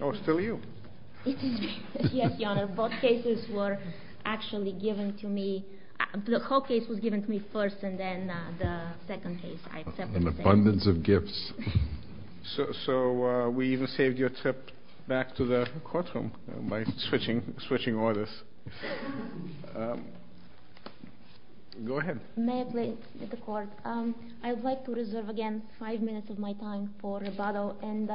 Oh, it's still you. It is me. Yes, Your Honor. Both cases were actually given to me. The whole case was given to me first, and then the second case. An abundance of gifts. So we even saved your trip back to the courtroom by switching orders. Go ahead. May I please, Mr. Court? I would like to reserve again five minutes of my time for rebuttal. And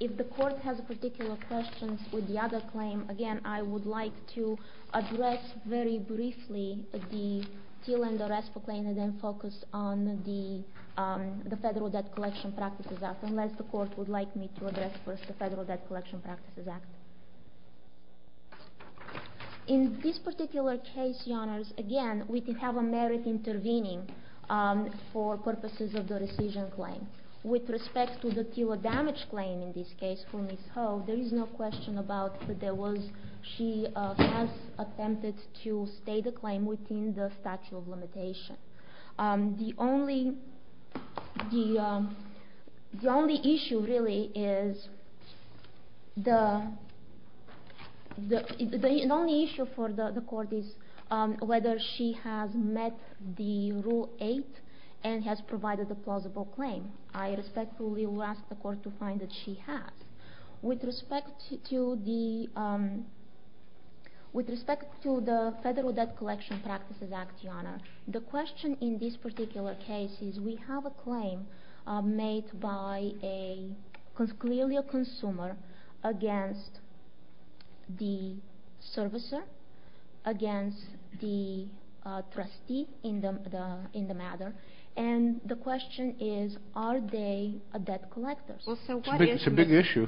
if the Court has particular questions with the other claim, again, I would like to address very briefly the Till and the Restful claim and then focus on the Federal Debt Collection Practices Act, unless the Court would like me to address first the Federal Debt Collection Practices Act. In this particular case, Your Honors, again, we did have a merit intervening for purposes of the rescission claim. With respect to the Till damage claim in this case for Ms. Ho, there is no question about that she has attempted to stay the claim within the statute of limitation. The only issue, really, is whether she has met the Rule 8 and has provided a plausible claim. I respectfully will ask the Court to find that she has. With respect to the Federal Debt Collection Practices Act, Your Honor, the question in this particular case is we have a claim made by clearly a consumer against the servicer, against the trustee in the matter, and the question is are they debt collectors? It's a big issue.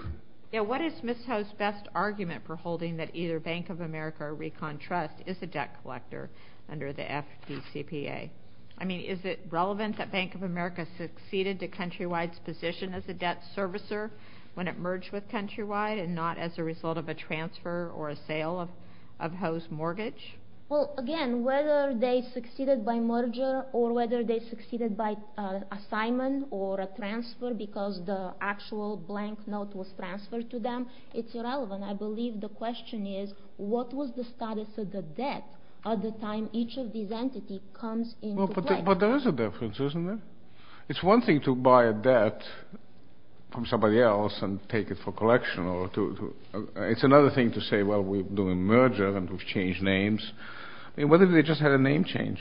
What is Ms. Ho's best argument for holding that either Bank of America or Recon Trust is a debt collector under the FDCPA? I mean, is it relevant that Bank of America succeeded to Countrywide's position as a debt servicer when it merged with Countrywide and not as a result of a transfer or a sale of Ho's mortgage? Well, again, whether they succeeded by merger or whether they succeeded by assignment or a transfer because the actual blank note was transferred to them, it's irrelevant. I believe the question is what was the status of the debt at the time each of these entities comes into play? But there is a difference, isn't there? It's one thing to buy a debt from somebody else and take it for collection. It's another thing to say, well, we're doing a merger and we've changed names. I mean, what if they just had a name change?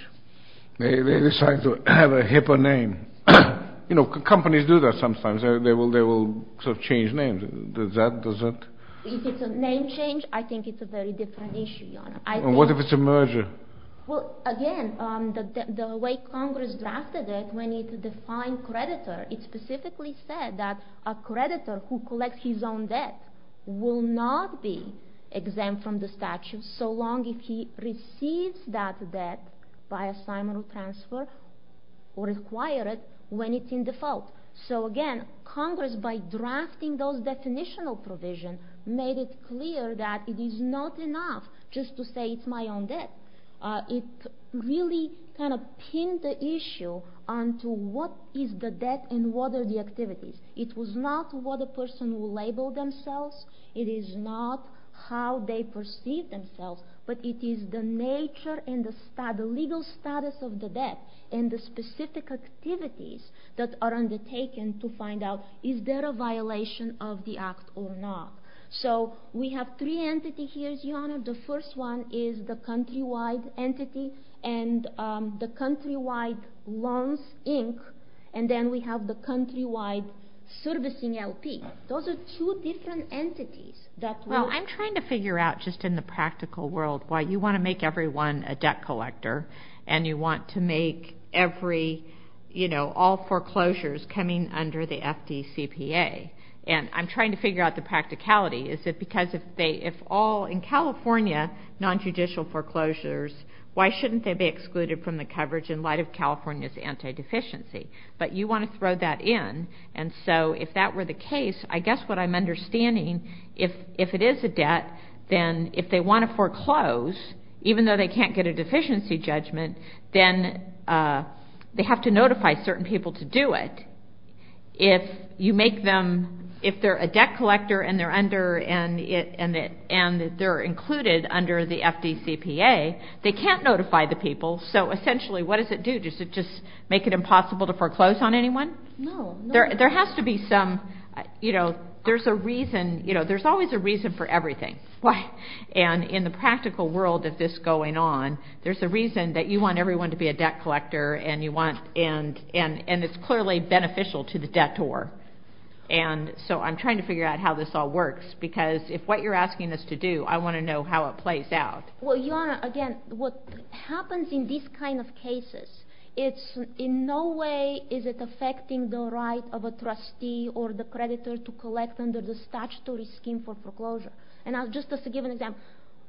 They decide to have a hipper name. You know, companies do that sometimes. They will sort of change names. Does that? Does that? If it's a name change, I think it's a very different issue, Your Honor. And what if it's a merger? Well, again, the way Congress drafted it when it defined creditor, it specifically said that a creditor who collects his own debt will not be exempt from the statute so long as he receives that debt by assignment or transfer or acquire it when it's in default. So, again, Congress, by drafting those definitional provisions, made it clear that it is not enough just to say it's my own debt. It really kind of pinned the issue onto what is the debt and what are the activities. It was not what a person will label themselves. It is not how they perceive themselves. But it is the nature and the legal status of the debt and the specific activities that are undertaken to find out is there a violation of the act or not. So, we have three entities here, Your Honor. The first one is the countrywide entity and the countrywide loans, Inc., and then we have the countrywide servicing LP. Those are two different entities that will- Well, you want to make everyone a debt collector and you want to make every, you know, all foreclosures coming under the FDCPA. And I'm trying to figure out the practicality. Is it because if all in California, nonjudicial foreclosures, why shouldn't they be excluded from the coverage in light of California's anti-deficiency? But you want to throw that in. And so, if that were the case, I guess what I'm understanding, if it is a debt, then if they want to foreclose, even though they can't get a deficiency judgment, then they have to notify certain people to do it. If you make them- if they're a debt collector and they're included under the FDCPA, they can't notify the people. So, essentially, what does it do? Does it just make it impossible to foreclose on anyone? No. There has to be some, you know, there's a reason, you know, there's always a reason for everything. And in the practical world of this going on, there's a reason that you want everyone to be a debt collector and you want- and it's clearly beneficial to the debtor. And so I'm trying to figure out how this all works because if what you're asking us to do, I want to know how it plays out. Well, Your Honor, again, what happens in these kind of cases, it's in no way is it affecting the right of a trustee or the creditor to collect under the statutory scheme for foreclosure. And I'll just give an example.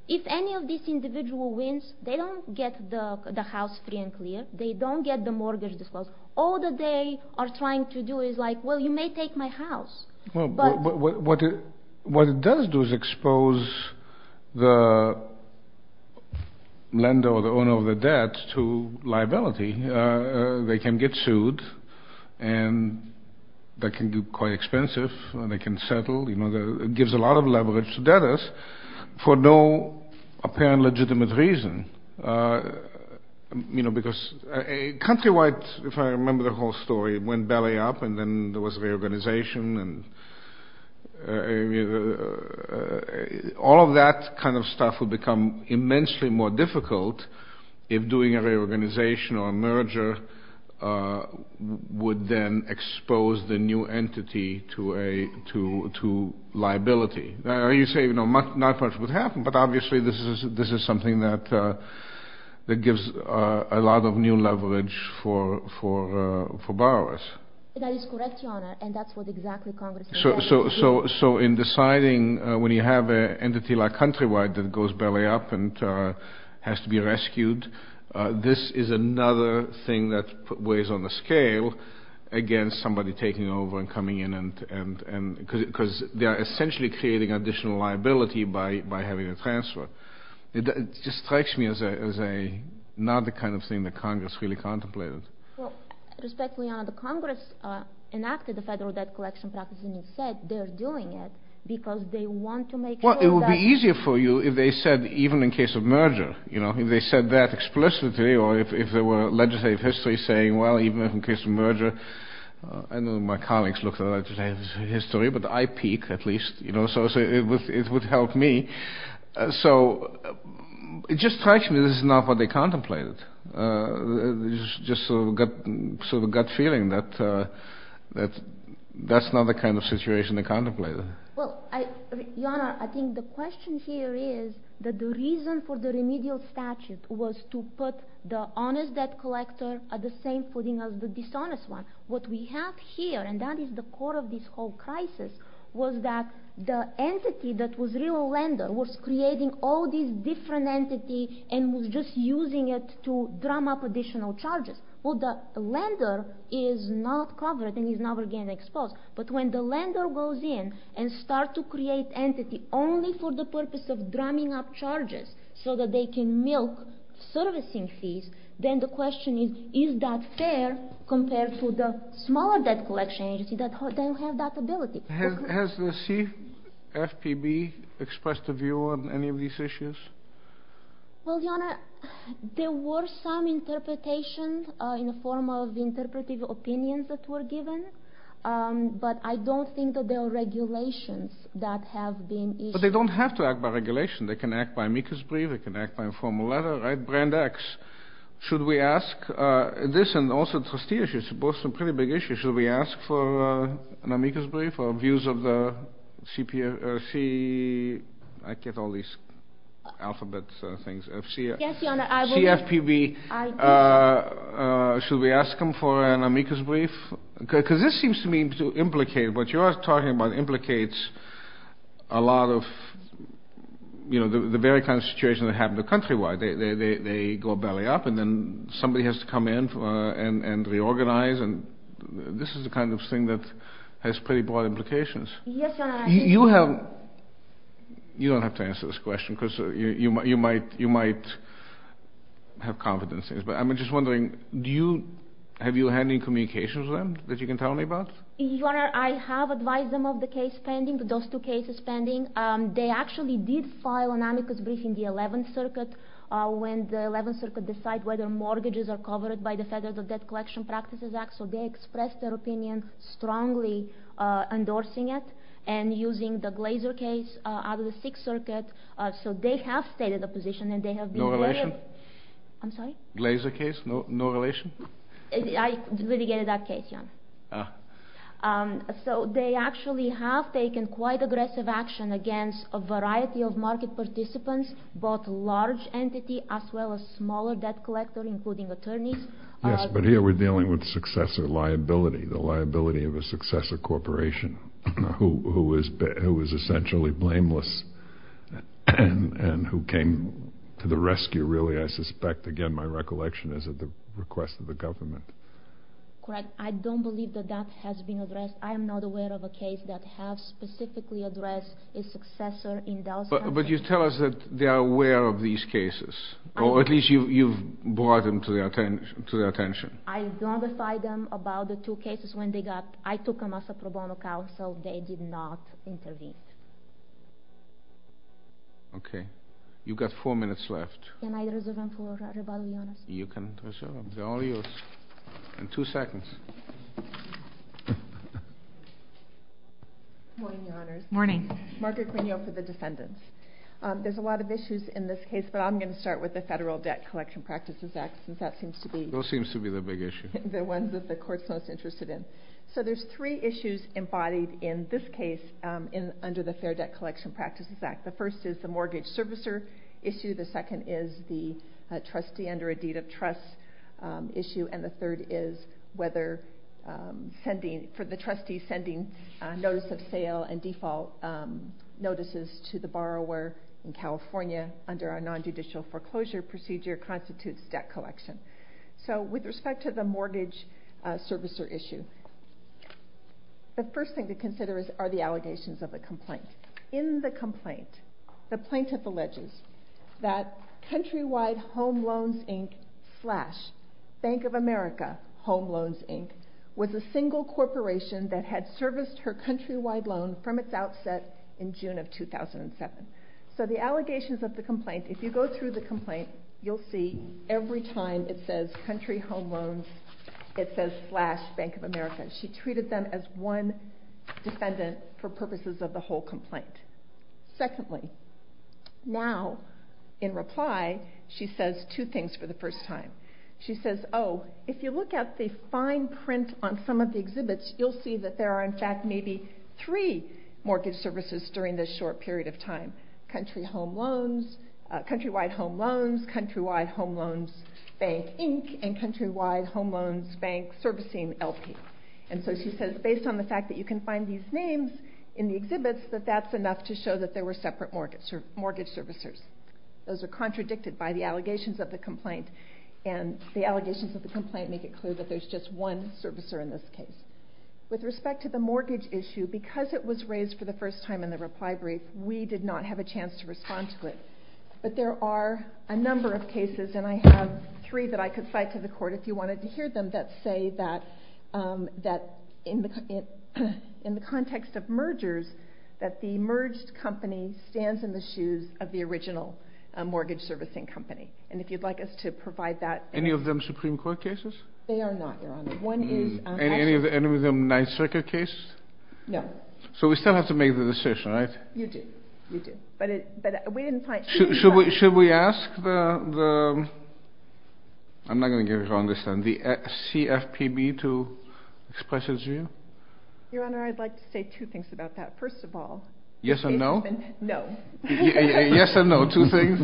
If any of these individual wins, they don't get the house free and clear, they don't get the mortgage disclosed. All that they are trying to do is like, well, you may take my house. Well, what it does do is expose the lender or the owner of the debt to liability. They can get sued and that can be quite expensive and they can settle. You know, it gives a lot of leverage to debtors for no apparent legitimate reason. You know, because countrywide, if I remember the whole story, it went belly up and then there was reorganization. All of that kind of stuff would become immensely more difficult if doing a reorganization or a merger would then expose the new entity to liability. Now, you say, you know, not much would happen, but obviously this is something that gives a lot of new leverage for borrowers. That is correct, Your Honor, and that's what exactly Congress did. So in deciding when you have an entity like countrywide that goes belly up and has to be rescued, this is another thing that weighs on the scale against somebody taking over and coming in. Because they are essentially creating additional liability by having a transfer. It just strikes me as another kind of thing that Congress really contemplated. Respectfully, Your Honor, the Congress enacted the Federal Debt Collection Practices and said they're doing it because they want to make sure that Well, it would be easier for you if they said even in case of merger. You know, if they said that explicitly or if there were legislative histories saying, well, even in case of merger. I know my colleagues look at legislative history, but I peek at least, you know, so it would help me. So it just strikes me this is not what they contemplated. It's just sort of a gut feeling that that's not the kind of situation they contemplated. Well, Your Honor, I think the question here is that the reason for the remedial statute was to put the honest debt collector at the same footing as the dishonest one. What we have here, and that is the core of this whole crisis, was that the entity that was a real lender was creating all these different entities and was just using it to drum up additional charges. Well, the lender is not covered and is never again exposed. But when the lender goes in and start to create entity only for the purpose of drumming up charges so that they can milk servicing fees, then the question is, is that fair compared to the smaller debt collection agency that have that ability? Has the CFPB expressed a view on any of these issues? Well, Your Honor, there were some interpretations in the form of interpretive opinions that were given, but I don't think that there are regulations that have been issued. But they don't have to act by regulation. They can act by amicus brief. They can act by informal letter, right? Brand X. Should we ask this and also trustee issues, both some pretty big issues. Should we ask for an amicus brief or views of the CFPB? Should we ask them for an amicus brief? Because this seems to me to implicate what you are talking about implicates a lot of the very kind of situation that happened countrywide. They go belly up and then somebody has to come in and reorganize. And this is the kind of thing that has pretty broad implications. You don't have to answer this question because you might have confidence in this. I'm just wondering, have you had any communications with them that you can tell me about? Your Honor, I have advised them of the case pending, those two cases pending. They actually did file an amicus brief in the 11th Circuit when the 11th Circuit decided whether mortgages are covered by the Federal Debt Collection Practices Act. So they expressed their opinion strongly endorsing it and using the Glazer case out of the 6th Circuit. So they have stated a position and they have been very— No relation? I'm sorry? Glazer case, no relation? I litigated that case, Your Honor. Ah. So they actually have taken quite aggressive action against a variety of market participants, both large entity as well as smaller debt collector including attorneys. Yes, but here we're dealing with successor liability, the liability of a successor corporation who was essentially blameless and who came to the rescue, really, I suspect. Again, my recollection is at the request of the government. Correct. I don't believe that that has been addressed. I am not aware of a case that has specifically addressed a successor in those countries. But you tell us that they are aware of these cases, or at least you've brought them to their attention. I notified them about the two cases when they got—I took them as a pro bono counsel. They did not intervene. Okay. You've got four minutes left. Can I reserve them for rebuttal, Your Honor? You can reserve them. They're all yours. In two seconds. Morning, Your Honors. Morning. Margaret Quinio for the defendants. There's a lot of issues in this case, but I'm going to start with the Federal Debt Collection Practices Act since that seems to be— Those seem to be the big issues. The ones that the Court's most interested in. So there's three issues embodied in this case under the Fair Debt Collection Practices Act. The first is the mortgage servicer issue. The second is the trustee under a deed of trust issue. And the third is whether sending—for the trustee sending notice of sale and default notices to the borrower in California under a nonjudicial foreclosure procedure constitutes debt collection. So with respect to the mortgage servicer issue, the first thing to consider are the allegations of a complaint. In the complaint, the plaintiff alleges that Countrywide Home Loans, Inc. slash Bank of America Home Loans, Inc. was a single corporation that had serviced her countrywide loan from its outset in June of 2007. So the allegations of the complaint—if you go through the complaint, you'll see every time it says Country Home Loans, it says slash Bank of America. She treated them as one defendant for purposes of the whole complaint. Secondly, now in reply, she says two things for the first time. She says, oh, if you look at the fine print on some of the exhibits, you'll see that there are in fact maybe three mortgage servicers during this short period of time. Countrywide Home Loans, Countrywide Home Loans Bank, Inc. and Countrywide Home Loans Bank Servicing, LP. And so she says, based on the fact that you can find these names in the exhibits, that that's enough to show that there were separate mortgage servicers. Those are contradicted by the allegations of the complaint. And the allegations of the complaint make it clear that there's just one servicer in this case. With respect to the mortgage issue, because it was raised for the first time in the reply brief, we did not have a chance to respond to it. But there are a number of cases, and I have three that I could cite to the court if you wanted to hear them, that say that in the context of mergers, that the merged company stands in the shoes of the original mortgage servicing company. And if you'd like us to provide that. Any of them Supreme Court cases? They are not, Your Honor. Any of them Ninth Circuit cases? No. So we still have to make the decision, right? You do. Should we ask the CFPB to express its view? Your Honor, I'd like to say two things about that. First of all. Yes or no? No. Yes or no, two things?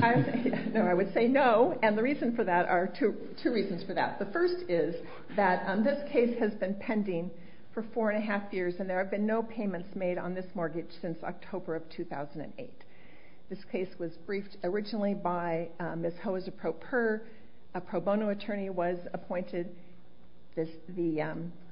No, I would say no. And the reason for that are two reasons for that. The first is that this case has been pending for four and a half years, and there have been no payments made on this mortgage since October of 2008. This case was briefed originally by Ms. Hoza Proper. A pro bono attorney was appointed.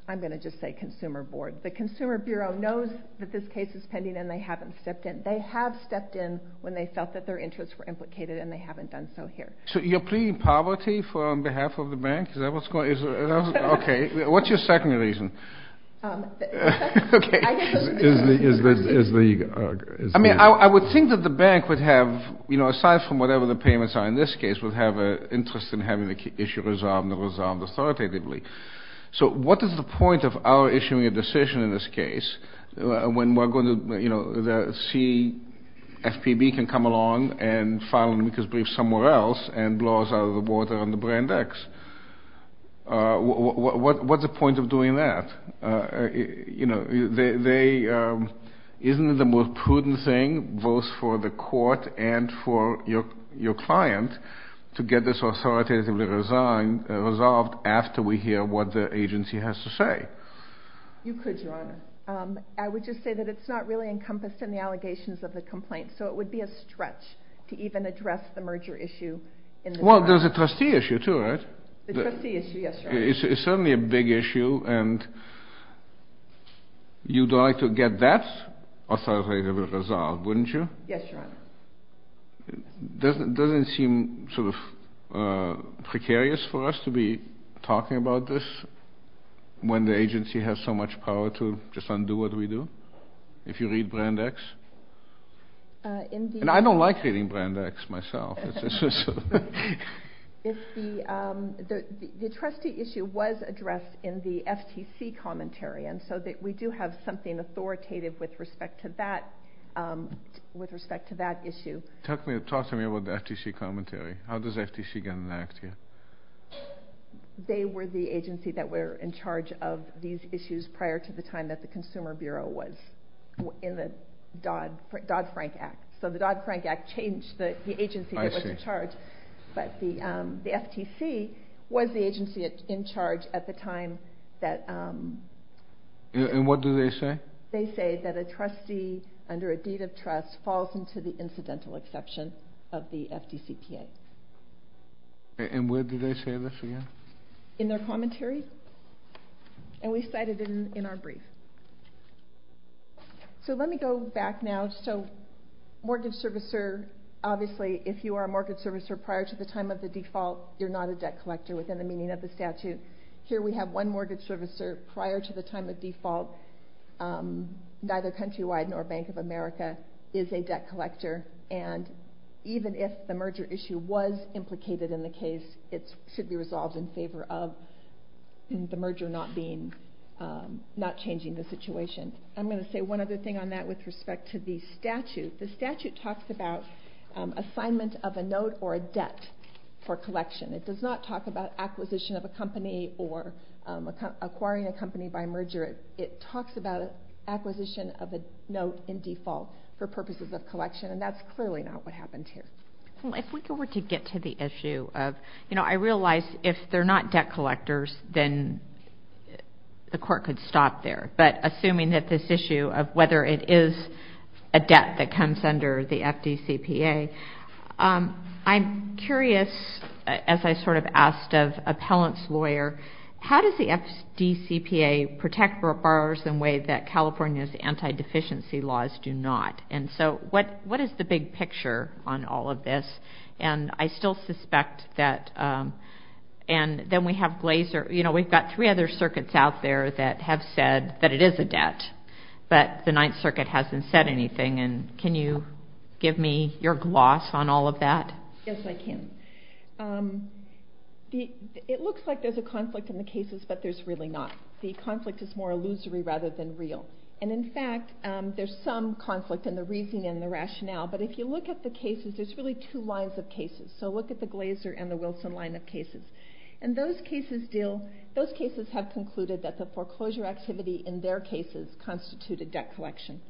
I'm going to just say consumer board. The Consumer Bureau knows that this case is pending, and they haven't stepped in. They have stepped in when they felt that their interests were implicated, and they haven't done so here. So you're pleading poverty on behalf of the bank? Is that what's going on? Okay. What's your second reason? I mean, I would think that the bank would have, you know, aside from whatever the payments are in this case, would have an interest in having the issue resolved and resolved authoritatively. So what is the point of our issuing a decision in this case when we're going to, you know, the CFPB can come along and file an amicus brief somewhere else and blow us out of the water on the brand X? What's the point of doing that? You know, isn't it the most prudent thing both for the court and for your client to get this authoritatively resolved after we hear what the agency has to say? You could, Your Honor. I would just say that it's not really encompassed in the allegations of the complaint, so it would be a stretch to even address the merger issue. Well, there's a trustee issue too, right? The trustee issue, yes, Your Honor. It's certainly a big issue, and you'd like to get that authoritatively resolved, wouldn't you? Yes, Your Honor. It doesn't seem sort of precarious for us to be talking about this when the agency has so much power to just undo what we do, if you read brand X. And I don't like reading brand X myself. The trustee issue was addressed in the FTC commentary, and so we do have something authoritative with respect to that issue. Talk to me about the FTC commentary. How does FTC get an act here? They were the agency that were in charge of these issues prior to the time that the Consumer Bureau was in the Dodd-Frank Act. So the Dodd-Frank Act changed the agency that was in charge, but the FTC was the agency in charge at the time that... And what do they say? They say that a trustee, under a deed of trust, falls into the incidental exception of the FTCPA. And where do they say this again? In their commentary, and we cite it in our brief. So let me go back now. So mortgage servicer, obviously, if you are a mortgage servicer prior to the time of the default, you're not a debt collector within the meaning of the statute. Here we have one mortgage servicer prior to the time of default, neither Countrywide nor Bank of America, is a debt collector. And even if the merger issue was implicated in the case, it should be resolved in favor of the merger not changing the situation. I'm going to say one other thing on that with respect to the statute. The statute talks about assignment of a note or a debt for collection. It does not talk about acquisition of a company or acquiring a company by merger. It talks about acquisition of a note in default for purposes of collection, and that's clearly not what happened here. If we were to get to the issue of, you know, I realize if they're not debt collectors, then the court could stop there. But assuming that this issue of whether it is a debt that comes under the FDCPA, I'm curious, as I sort of asked of Appellant's lawyer, how does the FDCPA protect borrowers in a way that California's anti-deficiency laws do not? And so what is the big picture on all of this? And I still suspect that, and then we have Glaser. You know, we've got three other circuits out there that have said that it is a debt, but the Ninth Circuit hasn't said anything. And can you give me your gloss on all of that? Yes, I can. It looks like there's a conflict in the cases, but there's really not. The conflict is more illusory rather than real. And, in fact, there's some conflict in the reasoning and the rationale. But if you look at the cases, there's really two lines of cases. So look at the Glaser and the Wilson line of cases. And those cases have concluded that the foreclosure activity in their cases constituted debt collection.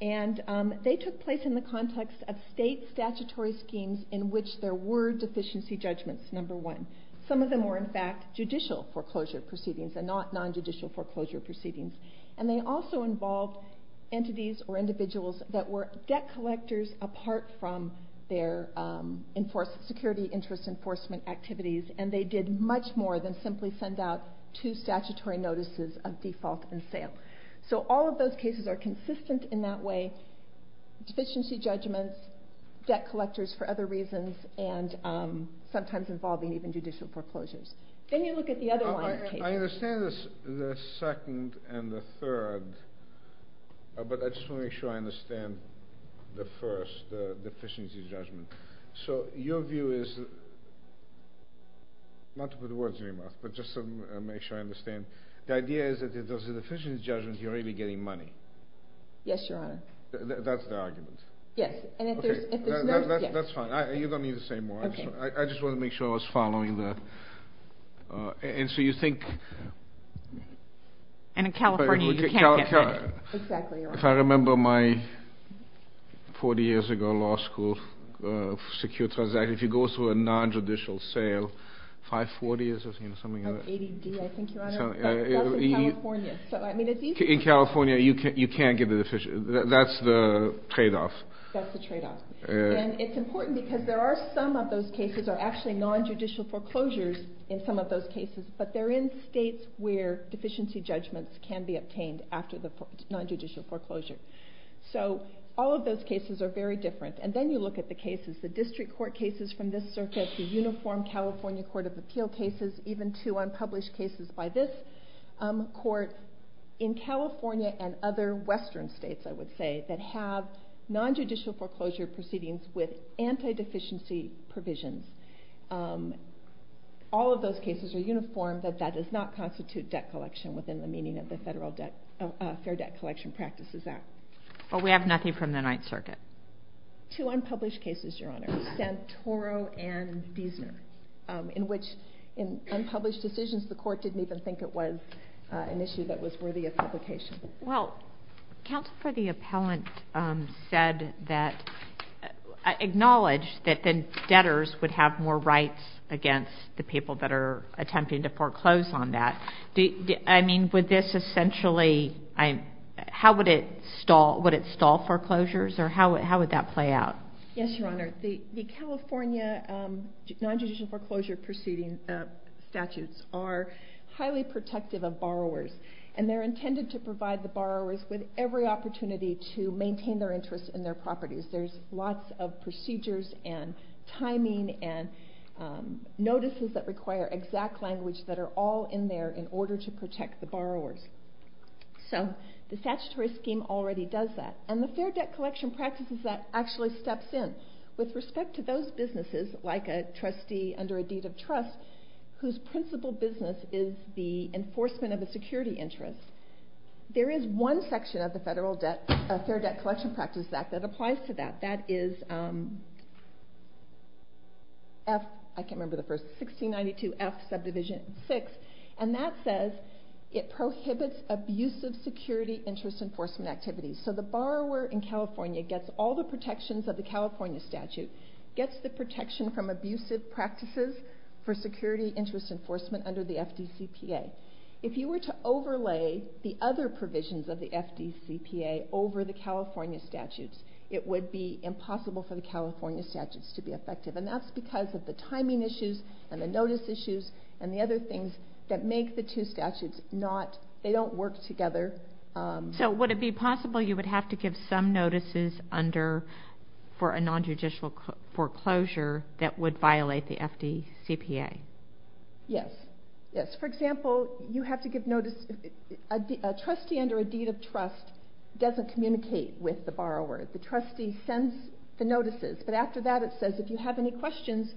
And they took place in the context of state statutory schemes in which there were deficiency judgments, number one. Some of them were, in fact, judicial foreclosure proceedings and not non-judicial foreclosure proceedings. And they also involved entities or individuals that were debt collectors apart from their security interest enforcement activities. And they did much more than simply send out two statutory notices of default and sale. So all of those cases are consistent in that way. Deficiency judgments, debt collectors for other reasons, and sometimes involving even judicial foreclosures. Then you look at the other line of cases. I understand the second and the third, but I just want to make sure I understand the first, the deficiency judgment. So your view is, not to put words in your mouth, but just to make sure I understand. The idea is that if there's a deficiency judgment, you're already getting money. Yes, Your Honor. That's the argument? Yes. That's fine. You don't need to say more. I just wanted to make sure I was following the… And so you think… And in California, you can't get money. Exactly, Your Honor. If I remember my 40 years ago law school secure transaction, if you go through a non-judicial sale, 540 is something like that. 80D, I think, Your Honor. That's in California. In California, you can't get a deficiency. That's the tradeoff. That's the tradeoff. And it's important because there are some of those cases are actually non-judicial foreclosures in some of those cases, but they're in states where deficiency judgments can be obtained after the non-judicial foreclosure. So all of those cases are very different. And then you look at the cases, the district court cases from this circuit, the uniform California Court of Appeal cases, even two unpublished cases by this court in California and other western states, I would say, that have non-judicial foreclosure proceedings with anti-deficiency provisions. All of those cases are uniform, but that does not constitute debt collection within the meaning of the Federal Fair Debt Collection Practices Act. Well, we have nothing from the Ninth Circuit. Two unpublished cases, Your Honor. Santoro and Diesner, in which in unpublished decisions, the court didn't even think it was an issue that was worthy of publication. Well, counsel for the appellant said that, acknowledged that the debtors would have more rights against the people that are attempting to foreclose on that. I mean, would this essentially, how would it stall foreclosures, or how would that play out? Yes, Your Honor. The California non-judicial foreclosure proceeding statutes are highly protective of borrowers, and they're intended to provide the borrowers with every opportunity to maintain their interest in their properties. There's lots of procedures and timing and notices that require exact language that are all in there in order to protect the borrowers. So the statutory scheme already does that, and the Fair Debt Collection Practices Act actually steps in with respect to those businesses, like a trustee under a deed of trust, whose principal business is the enforcement of a security interest. There is one section of the Fair Debt Collection Practices Act that applies to that. That is 1692F, subdivision 6, and that says it prohibits abusive security interest enforcement activities. So the borrower in California gets all the protections of the California statute, gets the protection from abusive practices for security interest enforcement under the FDCPA. If you were to overlay the other provisions of the FDCPA over the California statutes, it would be impossible for the California statutes to be effective, and that's because of the timing issues and the notice issues and the other things that make the two statutes not, they don't work together. So would it be possible you would have to give some notices under, for a nonjudicial foreclosure that would violate the FDCPA? Yes, yes. For example, you have to give notice, a trustee under a deed of trust doesn't communicate with the borrower. The trustee sends the notices, but after that it says, if you have any questions,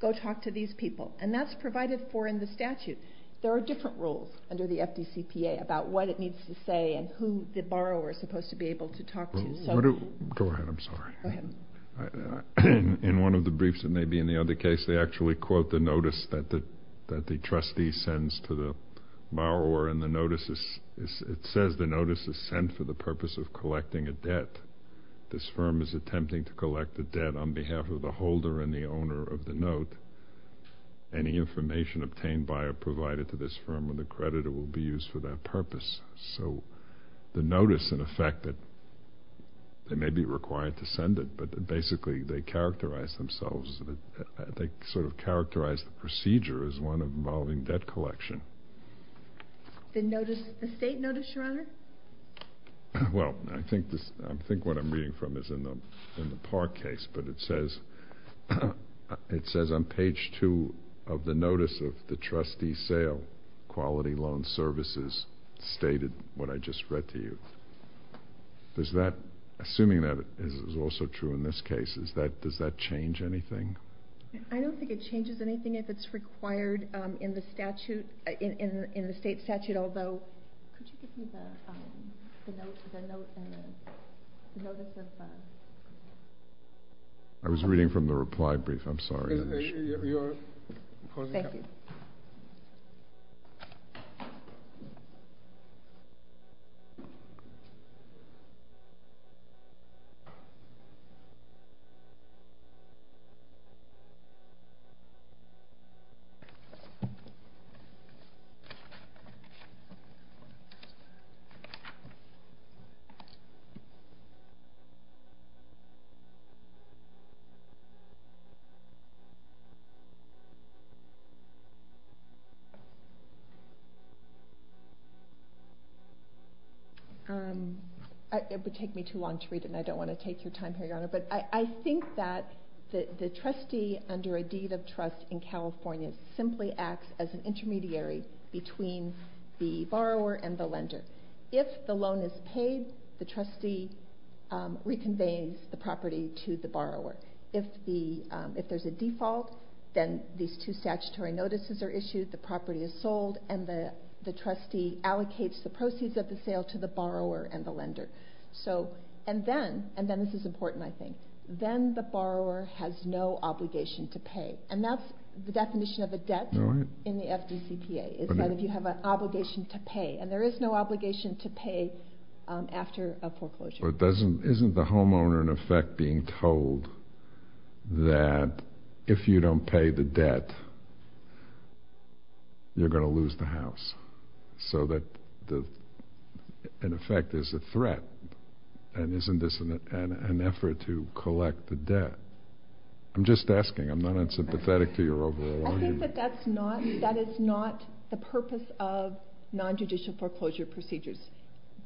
go talk to these people, and that's provided for in the statute. There are different rules under the FDCPA about what it needs to say and who the borrower is supposed to be able to talk to. Go ahead, I'm sorry. In one of the briefs, and maybe in the other case, they actually quote the notice that the trustee sends to the borrower, and it says the notice is sent for the purpose of collecting a debt. This firm is attempting to collect a debt on behalf of the holder and the owner of the note. Any information obtained by or provided to this firm or the creditor will be used for that purpose. So the notice, in effect, they may be required to send it, but basically they characterize themselves, they sort of characterize the procedure as one involving debt collection. The state notice, Your Honor? Well, I think what I'm reading from is in the Parr case, but it says on page 2 of the notice of the trustee sale, quality loan services stated what I just read to you. Assuming that is also true in this case, does that change anything? I don't think it changes anything if it's required in the state statute, although, could you give me the note and the notice of the? I was reading from the reply brief. I'm sorry. You're pausing? Thank you. It would take me too long to read, and I don't want to take your time here, Your Honor, but I think that the trustee under a deed of trust in California simply acts as an intermediary between the borrower and the lender. If the loan is paid, the trustee reconveys the property to the borrower. If there's a default, then these two statutory notices are issued, the property is sold, and the trustee allocates the proceeds of the sale to the borrower and the lender. This is important, I think. Then the borrower has no obligation to pay, and that's the definition of a debt in the FDCPA. It's that if you have an obligation to pay, and there is no obligation to pay after a foreclosure. Isn't the homeowner, in effect, being told that if you don't pay the debt, you're going to lose the house? So that, in effect, there's a threat, and isn't this an effort to collect the debt? I'm just asking. I'm not unsympathetic to your overall view. I think that that is not the purpose of nonjudicial foreclosure procedures.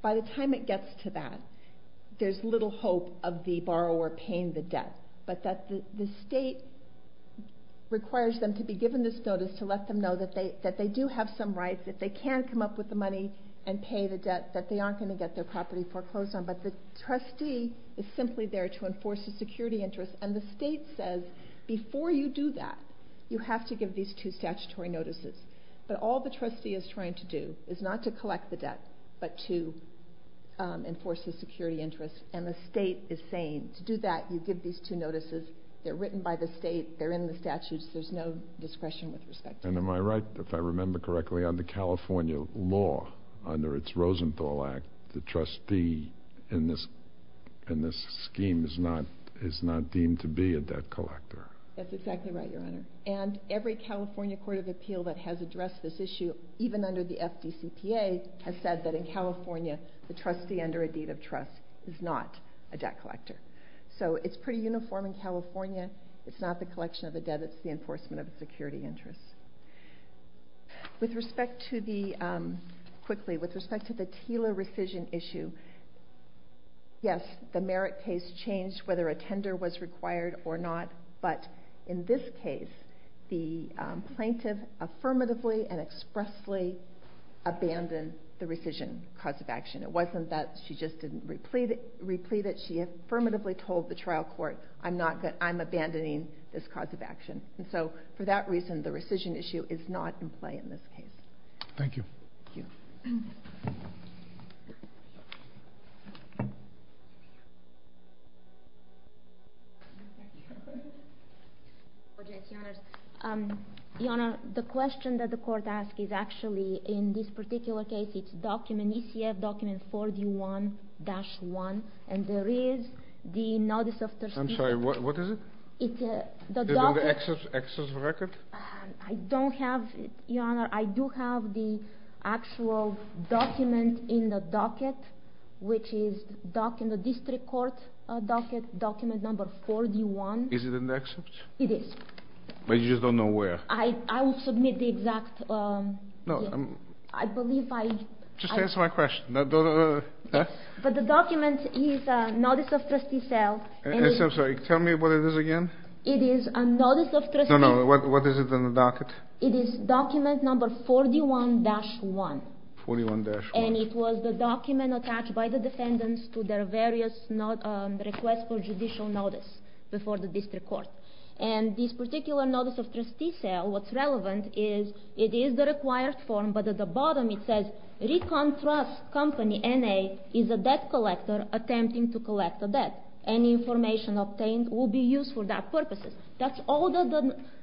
By the time it gets to that, there's little hope of the borrower paying the debt, but that the state requires them to be given this notice to let them know that they do have some rights, that they can come up with the money and pay the debt, that they aren't going to get their property foreclosed on. But the trustee is simply there to enforce the security interest, and the state says, before you do that, you have to give these two statutory notices. But all the trustee is trying to do is not to collect the debt, but to enforce the security interest, and the state is saying, to do that, you give these two notices. They're written by the state. They're in the statutes. There's no discretion with respect to them. And am I right, if I remember correctly, on the California law under its Rosenthal Act, the trustee in this scheme is not deemed to be a debt collector? That's exactly right, Your Honor. And every California court of appeal that has addressed this issue, even under the FDCPA, has said that in California, the trustee under a deed of trust is not a debt collector. So it's pretty uniform in California. It's not the collection of the debt. It's the enforcement of the security interest. With respect to the TILA rescission issue, yes, the merit case changed whether a tender was required or not, but in this case, the plaintiff affirmatively and expressly abandoned the rescission cause of action. It wasn't that she just didn't replete it. She affirmatively told the trial court, I'm not good, I'm abandoning this cause of action. And so for that reason, the rescission issue is not in play in this case. Thank you. Your Honor, the question that the court asked is actually in this particular case, it's document ECF document 41-1, and there is the notice of... I'm sorry, what is it? It's the docket... Is it in the excess record? I don't have, Your Honor, I do have the actual document in the docket, which is doc in the district court docket, document number 41. Is it in the excess? It is. But you just don't know where? I will submit the exact... No, I'm... I believe I... Just answer my question. But the document is notice of trustee sale... I'm sorry, tell me what it is again. It is a notice of trustee... No, no, what is it in the docket? It is document number 41-1. 41-1. And it was the document attached by the defendants to their various request for judicial notice before the district court. And this particular notice of trustee sale, what's relevant is it is the required form, but at the bottom it says, Recon Trust Company, N.A., is a debt collector attempting to collect a debt. Any information obtained will be used for that purposes. That's all that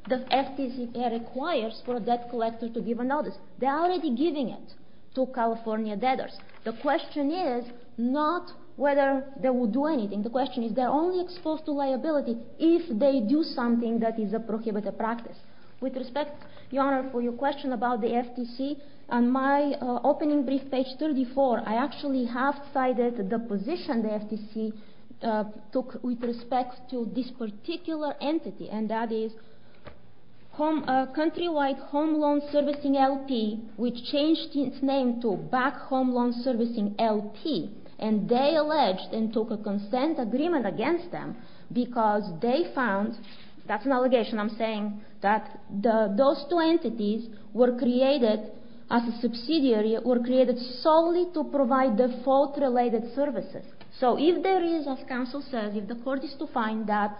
the FTC requires for a debt collector to give a notice. They're already giving it to California debtors. The question is not whether they will do anything. The question is they're only exposed to liability if they do something that is a prohibited practice. With respect, Your Honor, for your question about the FTC, on my opening brief, page 34, I actually have cited the position the FTC took with respect to this particular entity, and that is Countrywide Home Loan Servicing, L.P., which changed its name to Back Home Loan Servicing, L.P., and they alleged and took a consent agreement against them because they found, that's an allegation I'm saying, that those two entities were created as a subsidiary, were created solely to provide default-related services. So if there is, as counsel says, if the court is to find that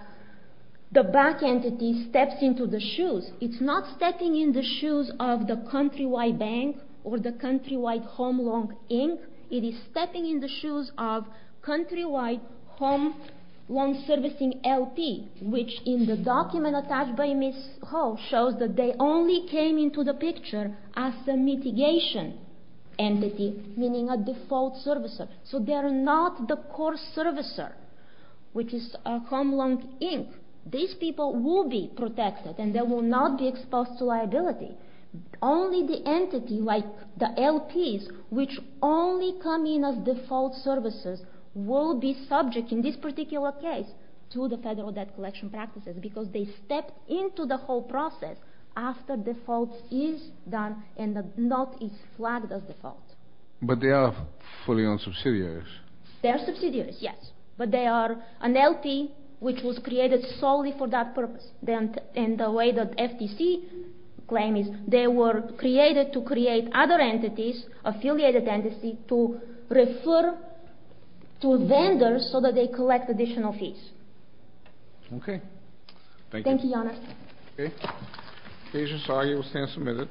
the back entity steps into the shoes, it's not stepping in the shoes of the Countrywide Bank or the Countrywide Home Loan, Inc. It is stepping in the shoes of Countrywide Home Loan Servicing, L.P., which in the document attached by Ms. Ho shows that they only came into the picture as a mitigation entity, meaning a default servicer. So they are not the core servicer, which is Home Loan, Inc. These people will be protected and they will not be exposed to liability. Only the entity, like the L.P.s, which only come in as default servicers, will be subject, in this particular case, to the Federal Debt Collection Practices because they stepped into the whole process after default is done and the note is flagged as default. But they are fully owned subsidiaries. They are subsidiaries, yes. But they are an L.P. which was created solely for that purpose. And the way that FTC claims is they were created to create other entities, affiliated entities, to refer to vendors so that they collect additional fees. Okay. Thank you. Thank you, Your Honor. Okay. Agent Sagi will stand submitted.